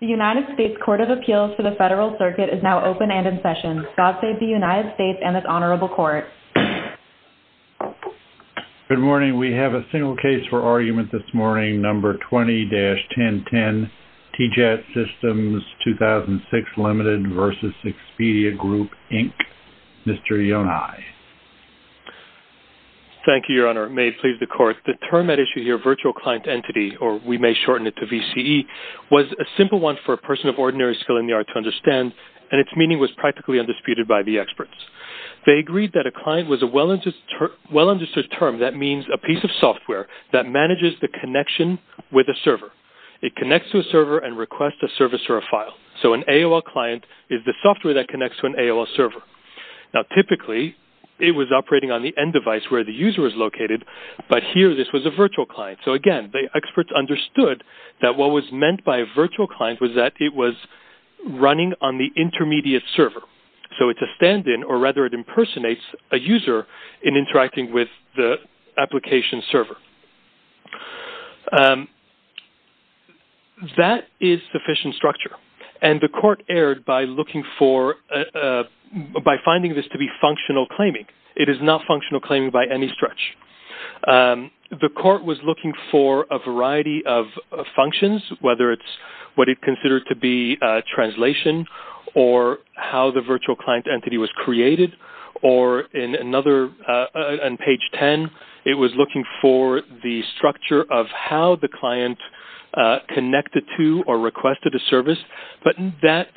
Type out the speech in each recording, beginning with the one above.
The United States Court of Appeals for the Federal Circuit is now open and in session. God save the United States and this Honorable Court. Good morning. We have a single case for argument this morning, number 20-1010, T-Jat Systems 2006 Ltd. v. Expedia Group, Inc., Mr. Yonai. Thank you, Your Honor. It may please the Court. The term at issue here, we may shorten it to VCE, was a simple one for a person of ordinary skill in the art to understand and its meaning was practically undisputed by the experts. They agreed that a client was a well understood term that means a piece of software that manages the connection with a server. It connects to a server and requests a service or a file. So an AOL client is the software that connects to an AOL server. Now typically, it was operating on the end device where the user is located, but here this was a virtual client. So again, the experts understood that what was meant by a virtual client was that it was running on the intermediate server. So it's a stand-in or rather it impersonates a user in interacting with the application server. That is sufficient structure and the Court erred by looking for, by finding this to be functional claiming. It is not functional claiming by any stretch. The Court was looking for a variety of functions, whether it's what it considered to be translation or how the virtual client entity was created or in another, on page 10, it was looking for the structure of how the client connected to or requested a service, but that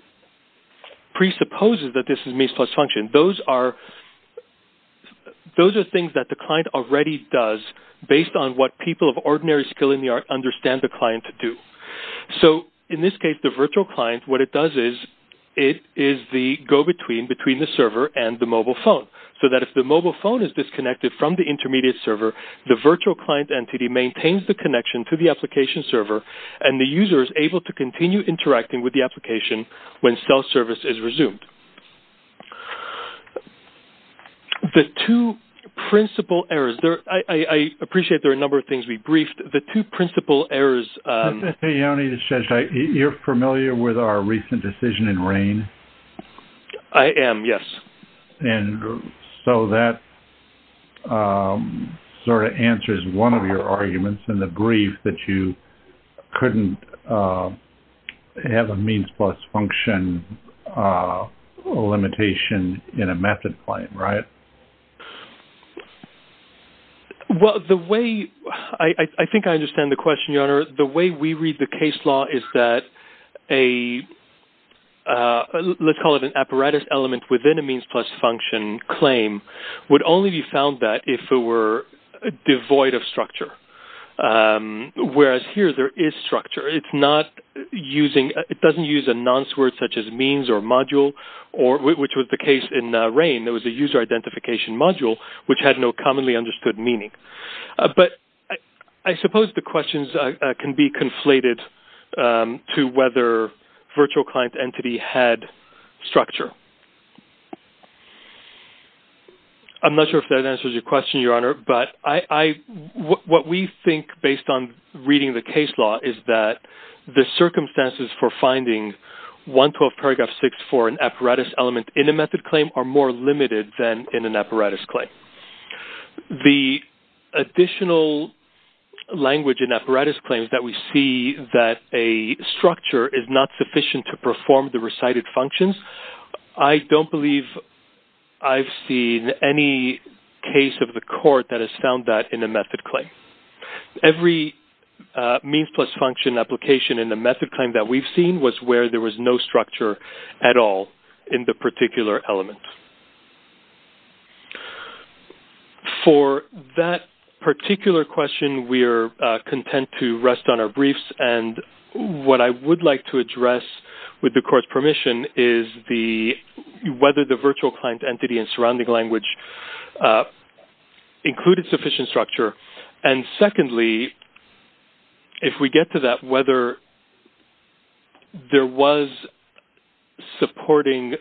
presupposes that this is a means plus function. Those are things that the client already does based on what people of ordinary skill in the art understand the client to do. So in this case, the virtual client, what it does is, it is the go-between between the server and the mobile phone. So that if the mobile phone is disconnected from the intermediate server, the virtual client entity maintains the connection to the application server and the user is able to continue interacting with the application when self-service is resumed. The two principal errors, I appreciate there are a number of things we briefed, the two principal errors. You're familiar with our recent decision in RAINN? I am, yes. And so that sort of answers one of your arguments in the brief that you couldn't have a means plus function limitation in a method claim, right? Well, the way, I think I understand the question, Your Honor. The way we read the case law is that a, let's call it an apparatus element within a means plus function claim would only be found that if it were devoid of structure. Whereas here, there is structure. It's not using, it doesn't use a nonce word such as means or module, which was the case in RAINN. It was a user identification module, which had no commonly understood meaning. But I suppose the questions can be conflated to whether virtual client entity had structure. I'm not sure if that answers your question, Your Honor. But I, what we think based on reading the case law is that the circumstances for finding 112 paragraph 6 for an apparatus element in a method claim are more limited than in an apparatus claim. The additional language in apparatus claims that we see that a structure is not sufficient to I don't believe I've seen any case of the court that has found that in a method claim. Every means plus function application in the method claim that we've seen was where there was no structure at all in the particular element. For that particular question, we are content to rest on our briefs. And what I would like to whether the virtual client entity and surrounding language included sufficient structure. And secondly, if we get to that, whether there was supporting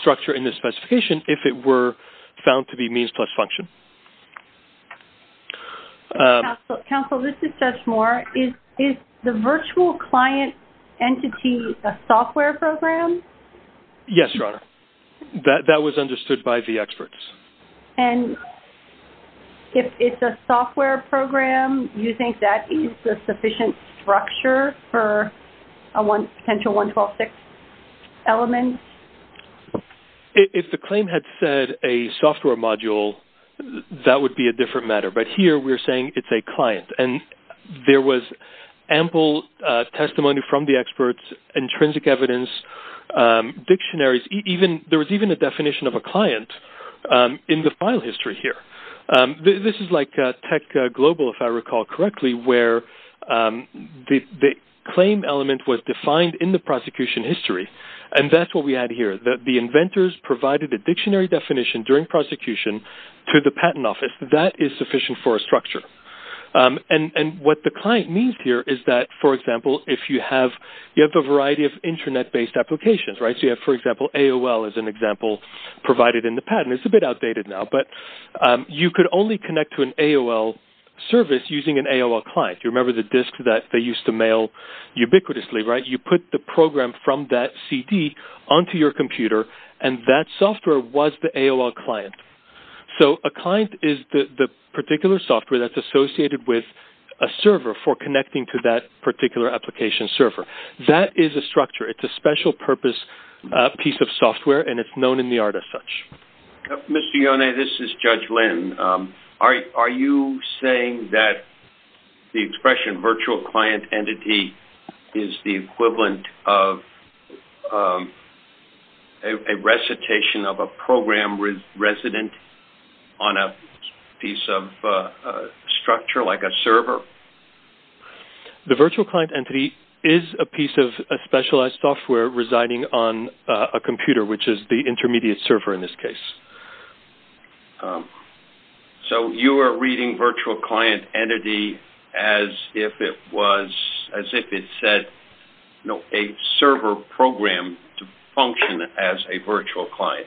structure in the specification if it were found to be means plus function. Counsel, this is Judge Moore. Is the virtual client entity a software program? Yes, Your Honor. That was understood by the experts. And if it's a software program, you think that is a sufficient structure for a one potential 112 paragraph 6 element? If the claim had said a software module, that would be a different matter. But here we're saying it's a client. And there was ample testimony from the experts, intrinsic evidence, dictionaries, even there was even a definition of a client in the file history here. This is like tech global, if I recall correctly, where the claim element was defined in the prosecution history. And that's what we had here that the inventors provided a dictionary definition during prosecution to the patent office that is sufficient for a structure. And what the client means here is that, for example, if you have a variety of internet-based applications, right? So, you have, for example, AOL as an example, provided in the patent. It's a bit outdated now, but you could only connect to an AOL service using an AOL client. You remember the disk that they used to mail ubiquitously, right? You put the program from that CD onto your computer, and that software was the AOL client. So, a client is the particular software that's associated with a server for connecting to that particular application server. That is a structure. It's a special purpose piece of software, and it's known in the art as such. Mr. Yone, this is Judge Lynn. Are you saying that the expression virtual client entity is the equivalent of a recitation of a program resident on a piece of structure like a server? The virtual client entity is a piece of specialized software residing on a computer, which is the intermediate server in this case. So, you are reading virtual client entity as if it was, as if it said a server program to function as a virtual client.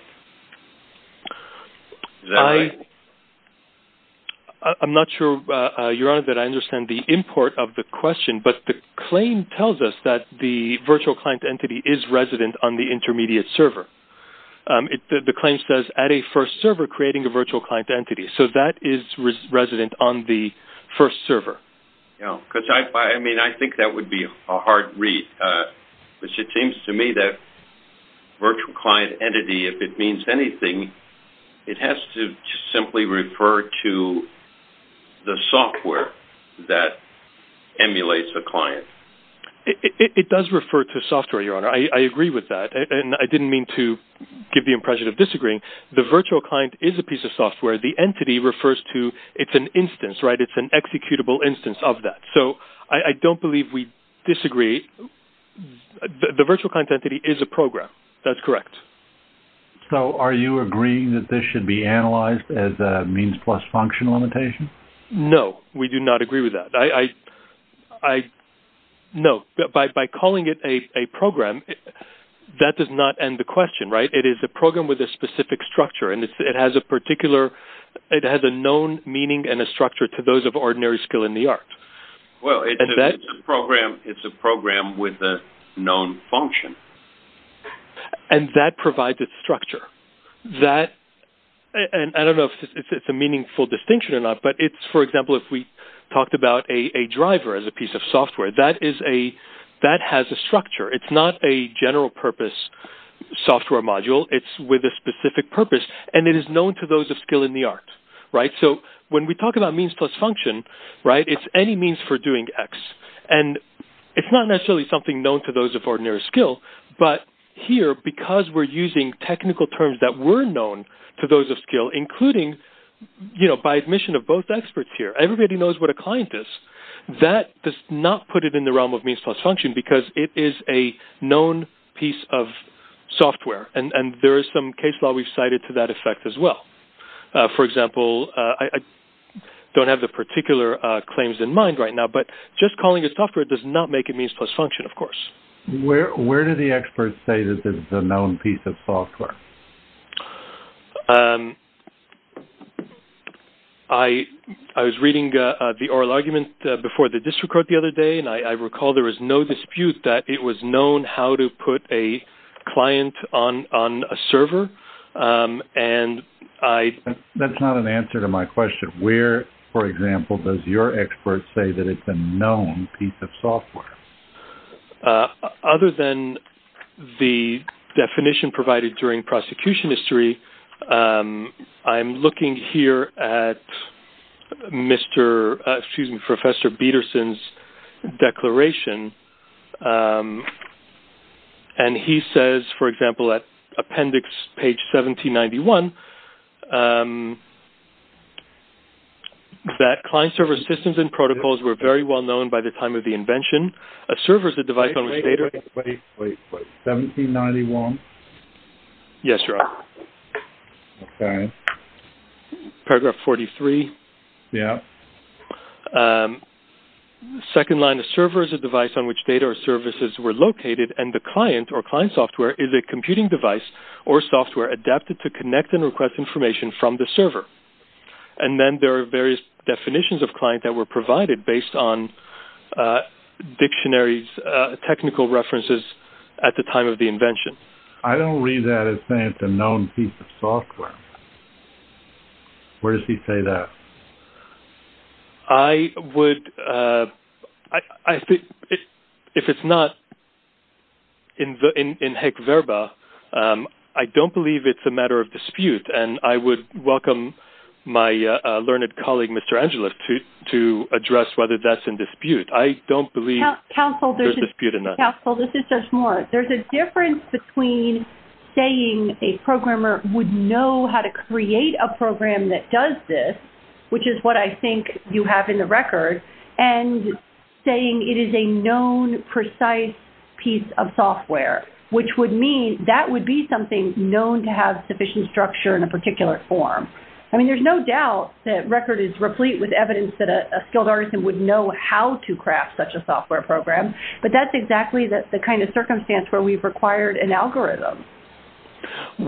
Is that right? I'm not sure, Your Honor, that I understand the import of the question, but the claim tells us that the virtual client entity is resident on the intermediate server. The claim says, at a first server, creating a virtual client entity. So, that is resident on the first server. I think that would be a hard read, which it seems to me that virtual client entity, if it means anything, it has to simply refer to the software that emulates a client. It does refer to software, Your Honor. I agree with that, and I didn't mean to give the impression of disagreeing. The virtual client is a piece of software. The entity refers to, it's an instance, right? It's an executable instance of that. So, I don't believe we disagree. The virtual client entity is a program. That's correct. So, are you agreeing that this should be analyzed as a means plus function limitation? No, we do not agree with that. I, no, by calling it a program, that does not end the question, right? It is a program with a specific structure, and it has a particular, it has a known meaning and a structure to those of ordinary skill in the art. Well, it's a program with a known function. And that provides a structure. That, and I don't know if it's a meaningful distinction or not, but it's, for example, if we talked about a driver as a piece of software, that is a, that has a structure. It's not a general purpose software module. It's with a specific purpose, and it is known to those of skill in the art, right? So, when we talk about means plus function, right, it's any means for doing X. And it's not necessarily something known to those of ordinary skill, but here, because we're using technical terms that were known to those of skill, including, you know, by admission of both experts here, everybody knows what a client is. That does not put it in the realm of means plus function, because it is a known piece of software, and there is some case law we've cited to that effect as well. For example, I don't have the particular claims in mind right now, but just calling it software does not make it means plus function, of course. Where do the experts say that this is a known piece of software? I was reading the oral argument before the district court the other day, and I recall there was no dispute that it was known how to put a client on a server, and I- That's not an answer to my question. Where, for example, does your expert say that it's a known piece of software? Other than the definition provided during prosecution history, I'm looking here at Mr.- excuse me, Professor Bederson's declaration, and he says, for example, at appendix page 1791, that client server systems and protocols were very well known by the time of the invention, a server is a device on which data- Wait, wait, wait. 1791? Yes, your honor. Okay. Paragraph 43. Yeah. Second line, a server is a device on which data or services were located, and the client, or client software, is a computing device or software adapted to connect and request information from the server, and then there are various definitions of client that were provided based on dictionaries, technical references at the time of the invention. I don't read that as saying it's a known piece of software. Where does he say that? I would- I think if it's not in the- in heck verba, I don't believe it's a matter of dispute, and I would welcome my learned colleague, Mr. Angelou, to address whether that's in dispute. I don't believe there's a dispute in that. Counsel, this is Judge Moore. There's a difference between saying a programmer would know how to create a program that does this, which is what I think you have in the record, and saying it is a known, precise piece of software, which would mean that would be something known to have sufficient structure in a particular form. I mean, there's no doubt that record is replete with evidence that a skilled artist would know how to craft such a software program, but that's exactly the kind of circumstance where we've required an algorithm.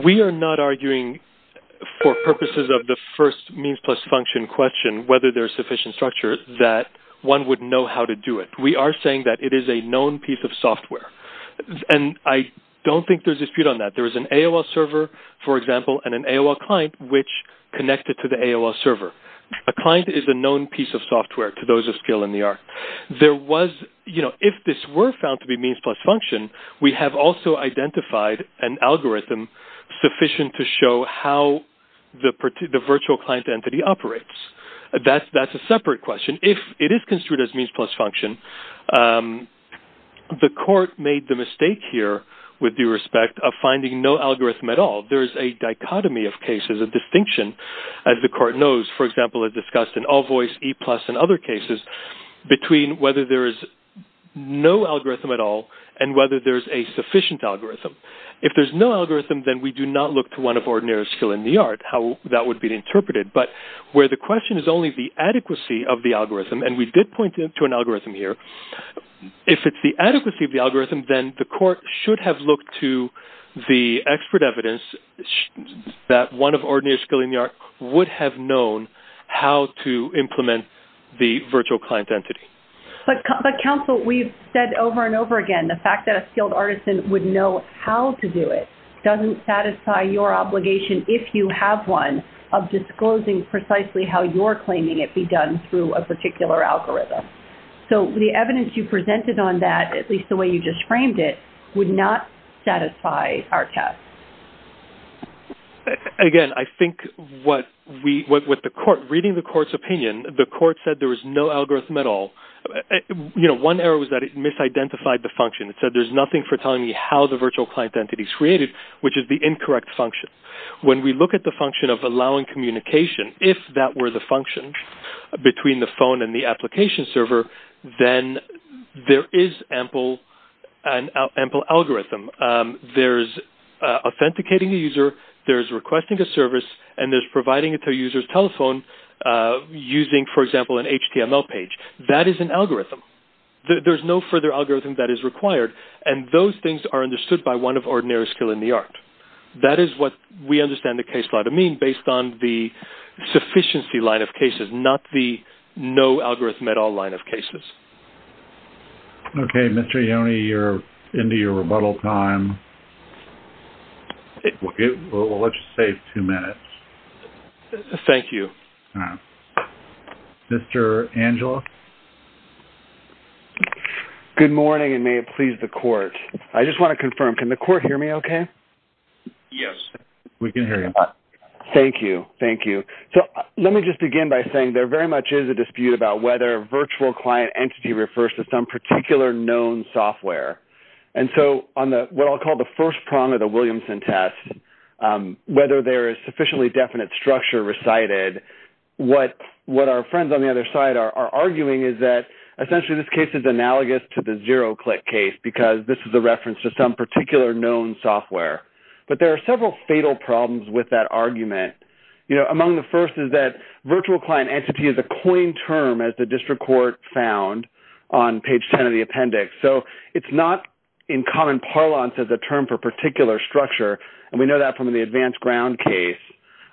We are not arguing for purposes of the first means plus function question, whether there's sufficient structure, that one would know how to do it. We are saying that it is a known piece of software, and I don't think there's a dispute on that. There is an AOL server, for example, and an AOL client, which connected to the AOL server. A client is a known piece of software to those of skill in the art. There was- you know, if this were found to be means plus function, we have also identified an algorithm sufficient to show how the virtual client entity operates. That's a separate question. If it is construed as means plus function, the court made the mistake here with due respect of finding no algorithm at all. There is a dichotomy of cases of distinction, as the court knows, for example, as discussed in AllVoice, ePlus, and other cases, between whether there is no algorithm at all and whether there's a sufficient algorithm. If there's no algorithm, then we do not look to one of ordinary skill in the art, how that would be interpreted. But where the question is only the adequacy of the algorithm, and we did point to an algorithm here, if it's the adequacy of the algorithm, then the court should have looked to the expert evidence that one of ordinary skill in the art would have known how to implement the virtual client entity. But counsel, we've said over and over again, the fact that a skilled artisan would know how to do it doesn't satisfy your obligation, if you have one, of disclosing precisely how you're claiming it be done through a particular algorithm. So the evidence you presented on that, at least the way you just framed it, would not satisfy our test. Again, I think what we, what the court, reading the court's opinion, the court said there was no algorithm at all. You know, one error was that it misidentified the function. It said there's nothing for telling you how the virtual client entity is created, which is the incorrect function. When we look at the function of allowing communication, if that were the function between the phone and the application server, then there is ample algorithm. There's authenticating the user, there's requesting a service, and there's providing it to a user's telephone using, for example, an HTML page. That is an algorithm. There's no further skill in the art. That is what we understand the case law to mean, based on the sufficiency line of cases, not the no algorithm at all line of cases. Okay, Mr. Ione, you're into your rebuttal time. We'll let you save two minutes. Thank you. Mr. Angeles? Good morning, and may it please the court. I just want to confirm, can the court hear me okay? Yes, we can hear you. Thank you. Thank you. So, let me just begin by saying there very much is a dispute about whether a virtual client entity refers to some particular known software. And so, on the, what I'll call the first prong of the Williamson test, whether there is sufficiently definite structure recited, what our friends on the other side are arguing is that, essentially, this case is analogous to the zero-click case, because this is a reference to some particular known software. But there are several fatal problems with that argument. Among the first is that virtual client entity is a coined term, as the district court found on page 10 of the appendix. So, it's not in common parlance as a term for particular structure, and we know that from the advanced ground case.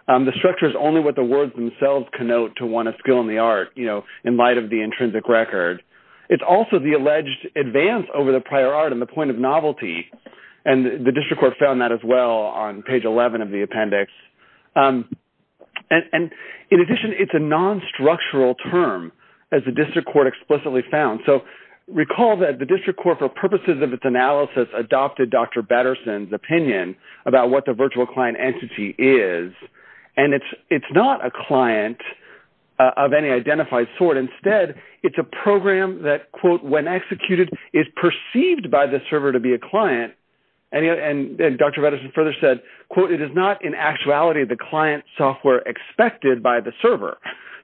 The structure is only what the words themselves connote to one of skill in the art, you know, in light of the intrinsic record. It's also the alleged advance over the prior art and the point of novelty, and the district court found that as well on page 11 of the appendix. And in addition, it's a non-structural term, as the district court explicitly found. So, recall that the district court, for purposes of its analysis, adopted Dr. Batterson's opinion about what the virtual client entity is. And it's not a client of any identified sort. Instead, it's a program that, quote, when executed, is perceived by the server to be a client. And Dr. Batterson further said, quote, it is not in actuality the client software expected by the server.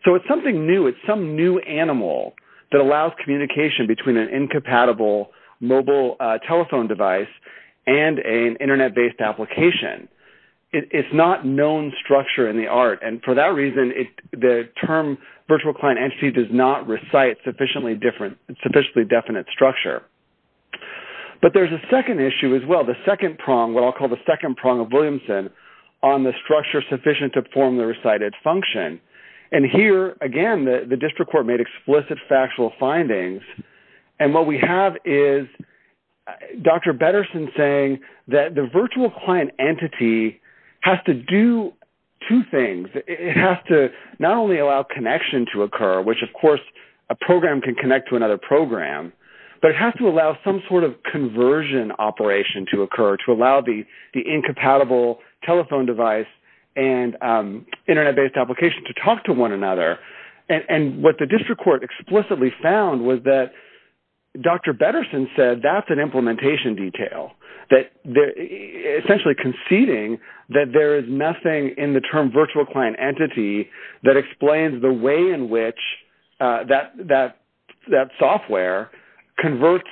So, it's something new. It's some new animal that allows communication between an internet-based application. It's not known structure in the art, and for that reason, the term virtual client entity does not recite sufficiently different, sufficiently definite structure. But there's a second issue as well, the second prong, what I'll call the second prong of Williamson, on the structure sufficient to perform the recited function. And here, again, the district court made explicit factual findings. And what we have is Dr. Batterson saying that the virtual client entity has to do two things. It has to not only allow connection to occur, which, of course, a program can connect to another program, but it has to allow some sort of conversion operation to occur, to allow the incompatible telephone device and internet-based application to talk to one another. And what the district court explicitly found was that Dr. Batterson said that's an implementation detail, essentially conceding that there is nothing in the term virtual client entity that explains the way in which that software converts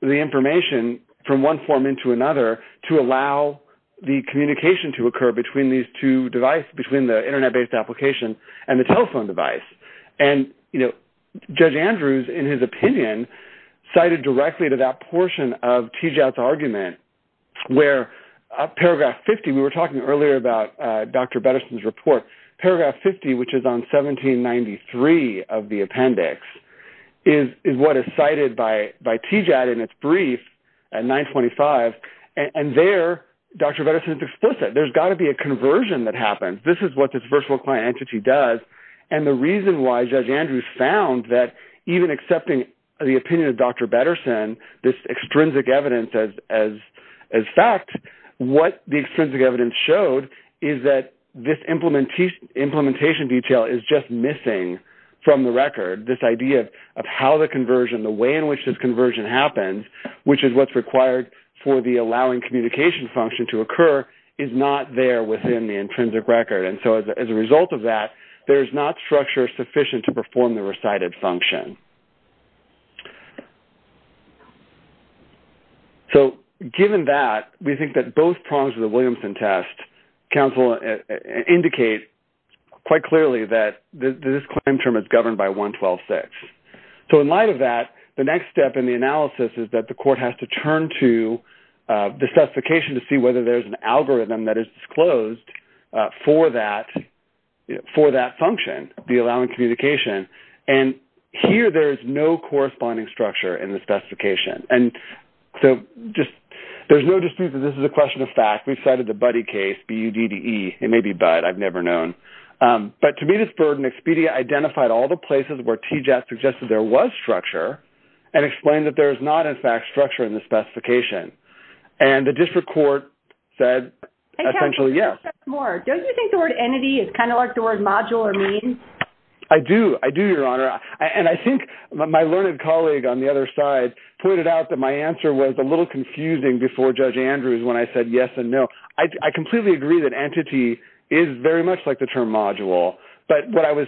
the information from one form into another to allow the communication to occur between these two devices, between the internet-based application and the telephone device. And Judge Andrews, in his opinion, cited directly to that portion of Tijat's argument, where paragraph 50, we were talking earlier about Dr. Batterson's report. Paragraph 50, which is on 1793 of the appendix, is what is cited by Tijat in its brief at 925. And there, Dr. Batterson is explicit. There's got to be a conversion that happens. This is what this virtual client entity does. And the reason why Judge Andrews found that even accepting the opinion of Dr. Batterson, this extrinsic evidence as fact, what the extrinsic evidence showed is that this implementation detail is just missing from the record. This idea of how the conversion, the way in which this conversion happens, which is what's required for the allowing communication function to occur, is not there within the intrinsic record. And so as a result of that, there is not structure sufficient to perform the recited function. So given that, we think that both prongs of the Williamson test, counsel, indicate quite clearly that this claim term is governed by 112.6. So in light of that, the next step in the analysis is that the court has to turn to the specification to see whether there's an algorithm that is disclosed for that function, the allowing communication. And here, there is no corresponding structure in the specification. And so there's no dispute that this is a question of fact. We've cited the Buddy case, B-U-D-D-E. It may be Bud. I've never known. But to me, this burden expedia identified all the places where TJAT suggested there was structure and explained that there is not, in fact, structure in the specification. And the district court said, essentially, yes. Don't you think the word entity is kind of like the word module or mean? I do. I do, Your Honor. And I think my learned colleague on the other side pointed out that my answer was a little confusing before Judge Andrews when I said yes and no. I completely agree that the term module. But what I was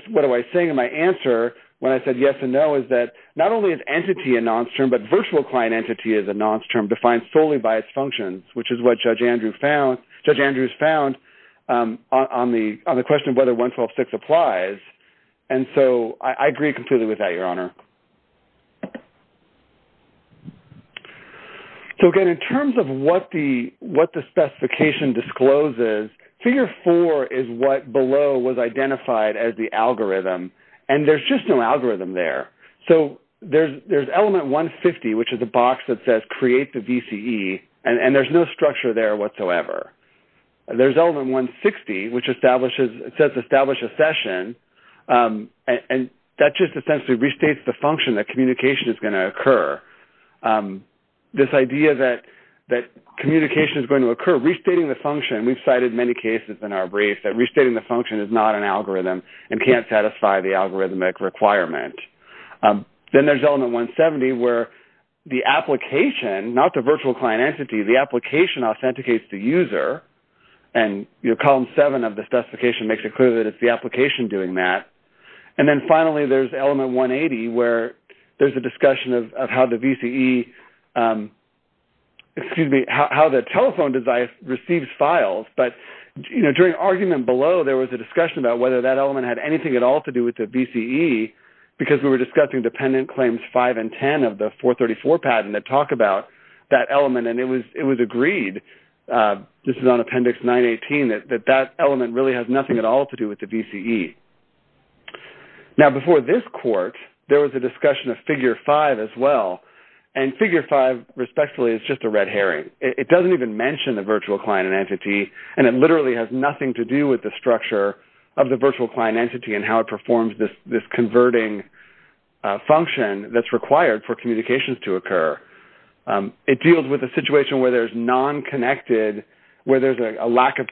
saying in my answer when I said yes and no is that not only is entity a nonce term, but virtual client entity is a nonce term defined solely by its functions, which is what Judge Andrews found on the question of whether 112.6 applies. And so I agree completely with that, Your Honor. So, again, in terms of what the specification discloses, figure four is what below was identified as the algorithm. And there's just no algorithm there. So there's element 150, which is the box that says create the VCE. And there's no structure there whatsoever. There's element 160, which establishes, it says establish a session. And that just essentially restates the function that communication is going to occur. This idea that communication is going to occur, restating the function, we've cited many cases in our brief, that restating the function is not an algorithm and can't satisfy the algorithmic requirement. Then there's element 170, where the application, not the virtual client entity, the application authenticates the user. And your column seven of the specification makes it clear that it's the application doing that. And then finally, there's element 180, where there's a discussion of how the VCE, excuse me, how the telephone receives files. But during argument below, there was a discussion about whether that element had anything at all to do with the VCE, because we were discussing dependent claims five and 10 of the 434 patent that talk about that element. And it was agreed, this is on appendix 918, that that element really has nothing at all to do with the VCE. Now, before this court, there was a discussion of figure five as well. And figure five, respectfully, is just a red herring. It doesn't even mention the virtual client entity. And it literally has nothing to do with the structure of the virtual client entity and how it performs this converting function that's required for communications to occur. It deals with a situation where there's non-connected, where there's a lack of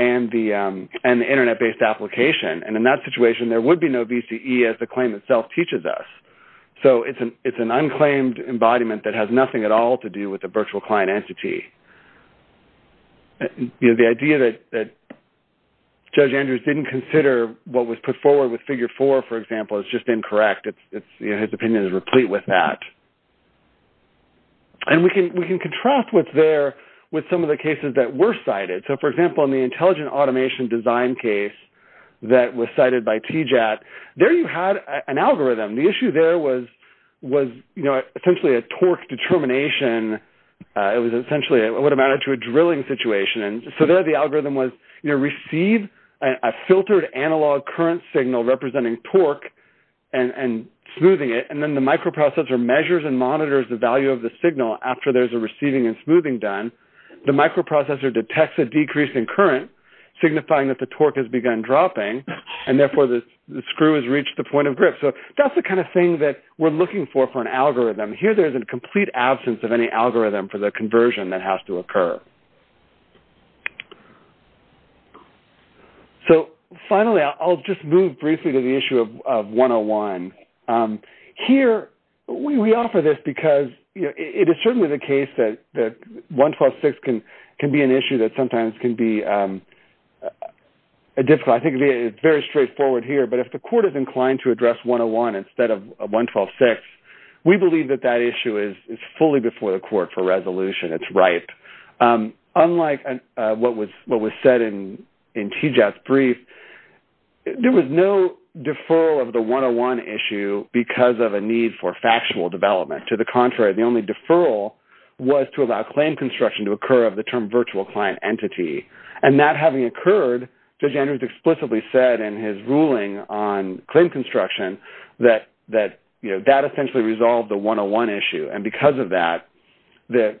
and the internet-based application. And in that situation, there would be no VCE as the claim itself teaches us. So it's an unclaimed embodiment that has nothing at all to do with the virtual client entity. The idea that Judge Andrews didn't consider what was put forward with figure four, for example, is just incorrect. His opinion is replete with that. And we can contrast what's there with some of the cases that were cited. So, for example, in the intelligent automation design case that was cited by TJAT, there you had an algorithm. The issue there was essentially a torque determination. It was essentially, it would have added to a drilling situation. And so there, the algorithm was, you receive a filtered analog current signal representing torque and smoothing it. And then the microprocessor measures and monitors the value of the signal after there's a receiving and smoothing done. The microprocessor detects a decrease in current, signifying that the torque has begun dropping, and therefore the screw has reached the point of grip. So that's the kind of thing that we're looking for for an algorithm. Here, there's a complete absence of any algorithm for the conversion that has to occur. So finally, I'll just move briefly to the issue of 101. Here, we offer this because it is certainly the case that 112.6 can be an issue that sometimes can be difficult. I think it's very straightforward here, but if the court is inclined to address 101 instead of 112.6, we believe that that issue is fully before the court for resolution. It's ripe. Unlike what was said in TJAT's brief, there was no deferral of the 101 issue because of a need for factual development. To the contrary, the only deferral was to allow claim construction to occur of the term virtual client entity. And that having occurred, Judge Andrews explicitly said in his ruling on claim construction that that essentially resolved the 101 issue. And because of that, the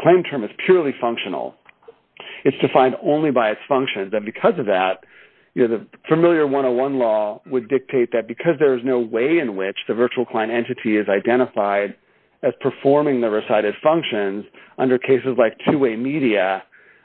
claim term is purely functional. It's defined only by its functions. And because of that, the familiar 101 law would dictate that because there is no way in which the virtual client entity is identified as performing the recited functions under cases like two-way media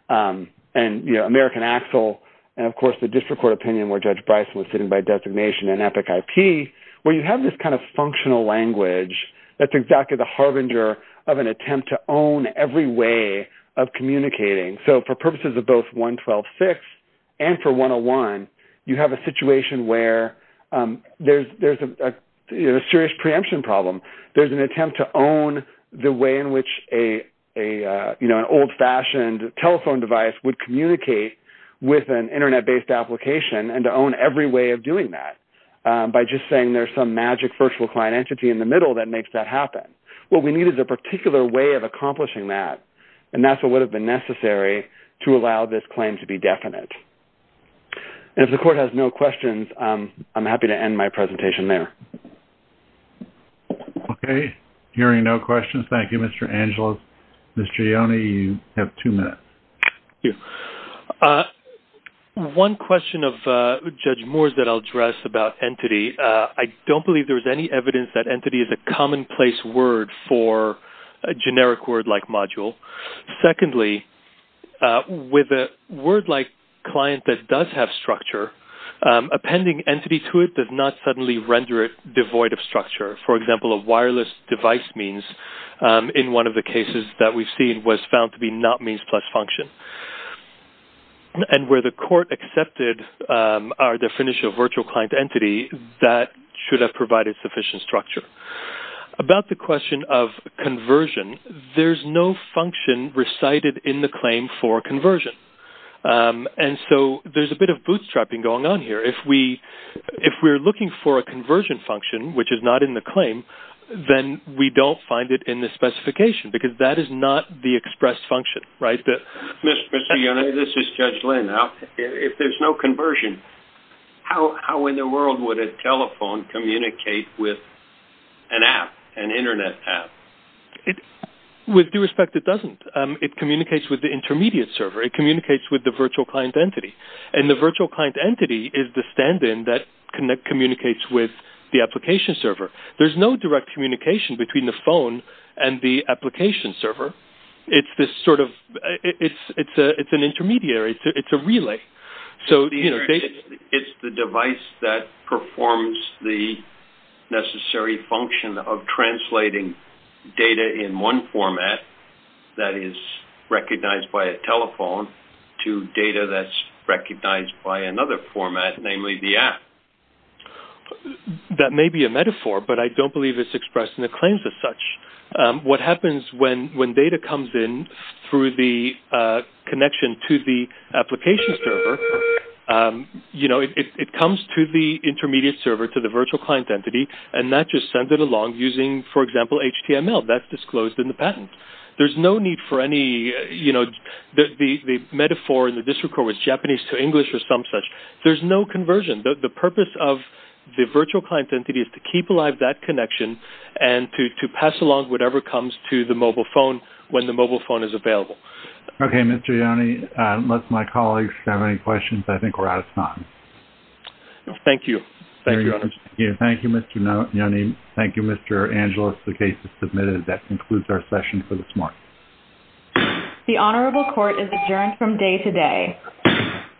and American Axel, and of course, the district court opinion where Judge Bryson was sitting by designation in Epic IP, where you have this kind of functional language that's exactly the harbinger of an attempt to own every way of communicating. So for purposes of both 112.6 and for 101, you have a situation where there's a serious preemption problem. There's an attempt to own the way in which an old-fashioned telephone device would communicate with an internet-based application and to own every way of doing that by just saying there's some magic virtual client entity in the middle that makes that happen. What we need is a particular way of accomplishing that. And that's what would have been necessary to allow this claim to be definite. And if the court has no questions, I'm happy to end my presentation there. Okay. Hearing no questions. Thank you, Mr. Angelos. Mr. Ione, you have two minutes. Thank you. One question of Judge Moore's that I'll address about entity. I don't believe there's any evidence that entity is a commonplace word for a generic word-like module. Secondly, with a word-like client that does have structure, appending entity to it does not suddenly render it devoid of structure. For example, a wireless device means, in one of the cases that we've seen, was found to be not means plus function. And where the court accepted our definition of virtual client entity, that should have provided sufficient structure. About the question of conversion, there's no function recited in the claim for conversion. And so there's a bit of bootstrapping going on here. If we're looking for a conversion function, which is not in the claim, then we don't find it in the specification, because that is not the express function, right? Mr. Ione, this is Judge Lynn. If there's no conversion, how in the world would a telephone communicate with an app, an internet app? With due respect, it doesn't. It communicates with the intermediate server. It communicates with the virtual client entity. And the virtual client entity is the stand-in that communicates with the application server. There's no direct communication between the phone and the application server. It's an intermediary. It's a relay. It's the device that performs the necessary function of translating data in one format that is recognized by a telephone to data that's recognized by another format, namely the app. That may be a metaphor, but I don't believe it's expressed in the claims as such. What happens when data comes in through the connection to the application server, you know, it comes to the intermediate server, to the virtual client entity, and that just sends it along using, for example, HTML. That's disclosed in the patent. There's no need for any, you know, the metaphor in the district court was Japanese to English or some such. There's no conversion. The purpose of the virtual client entity is to keep alive that connection and to pass along whatever comes to the mobile phone when the mobile phone is available. Okay, Mr. Yoni, unless my colleagues have any questions, I think we're out of time. Thank you. Thank you, Mr. Yoni. Thank you, Mr. Angeles. The case is submitted. That concludes our session for this morning. The Honorable Court is adjourned from day to day.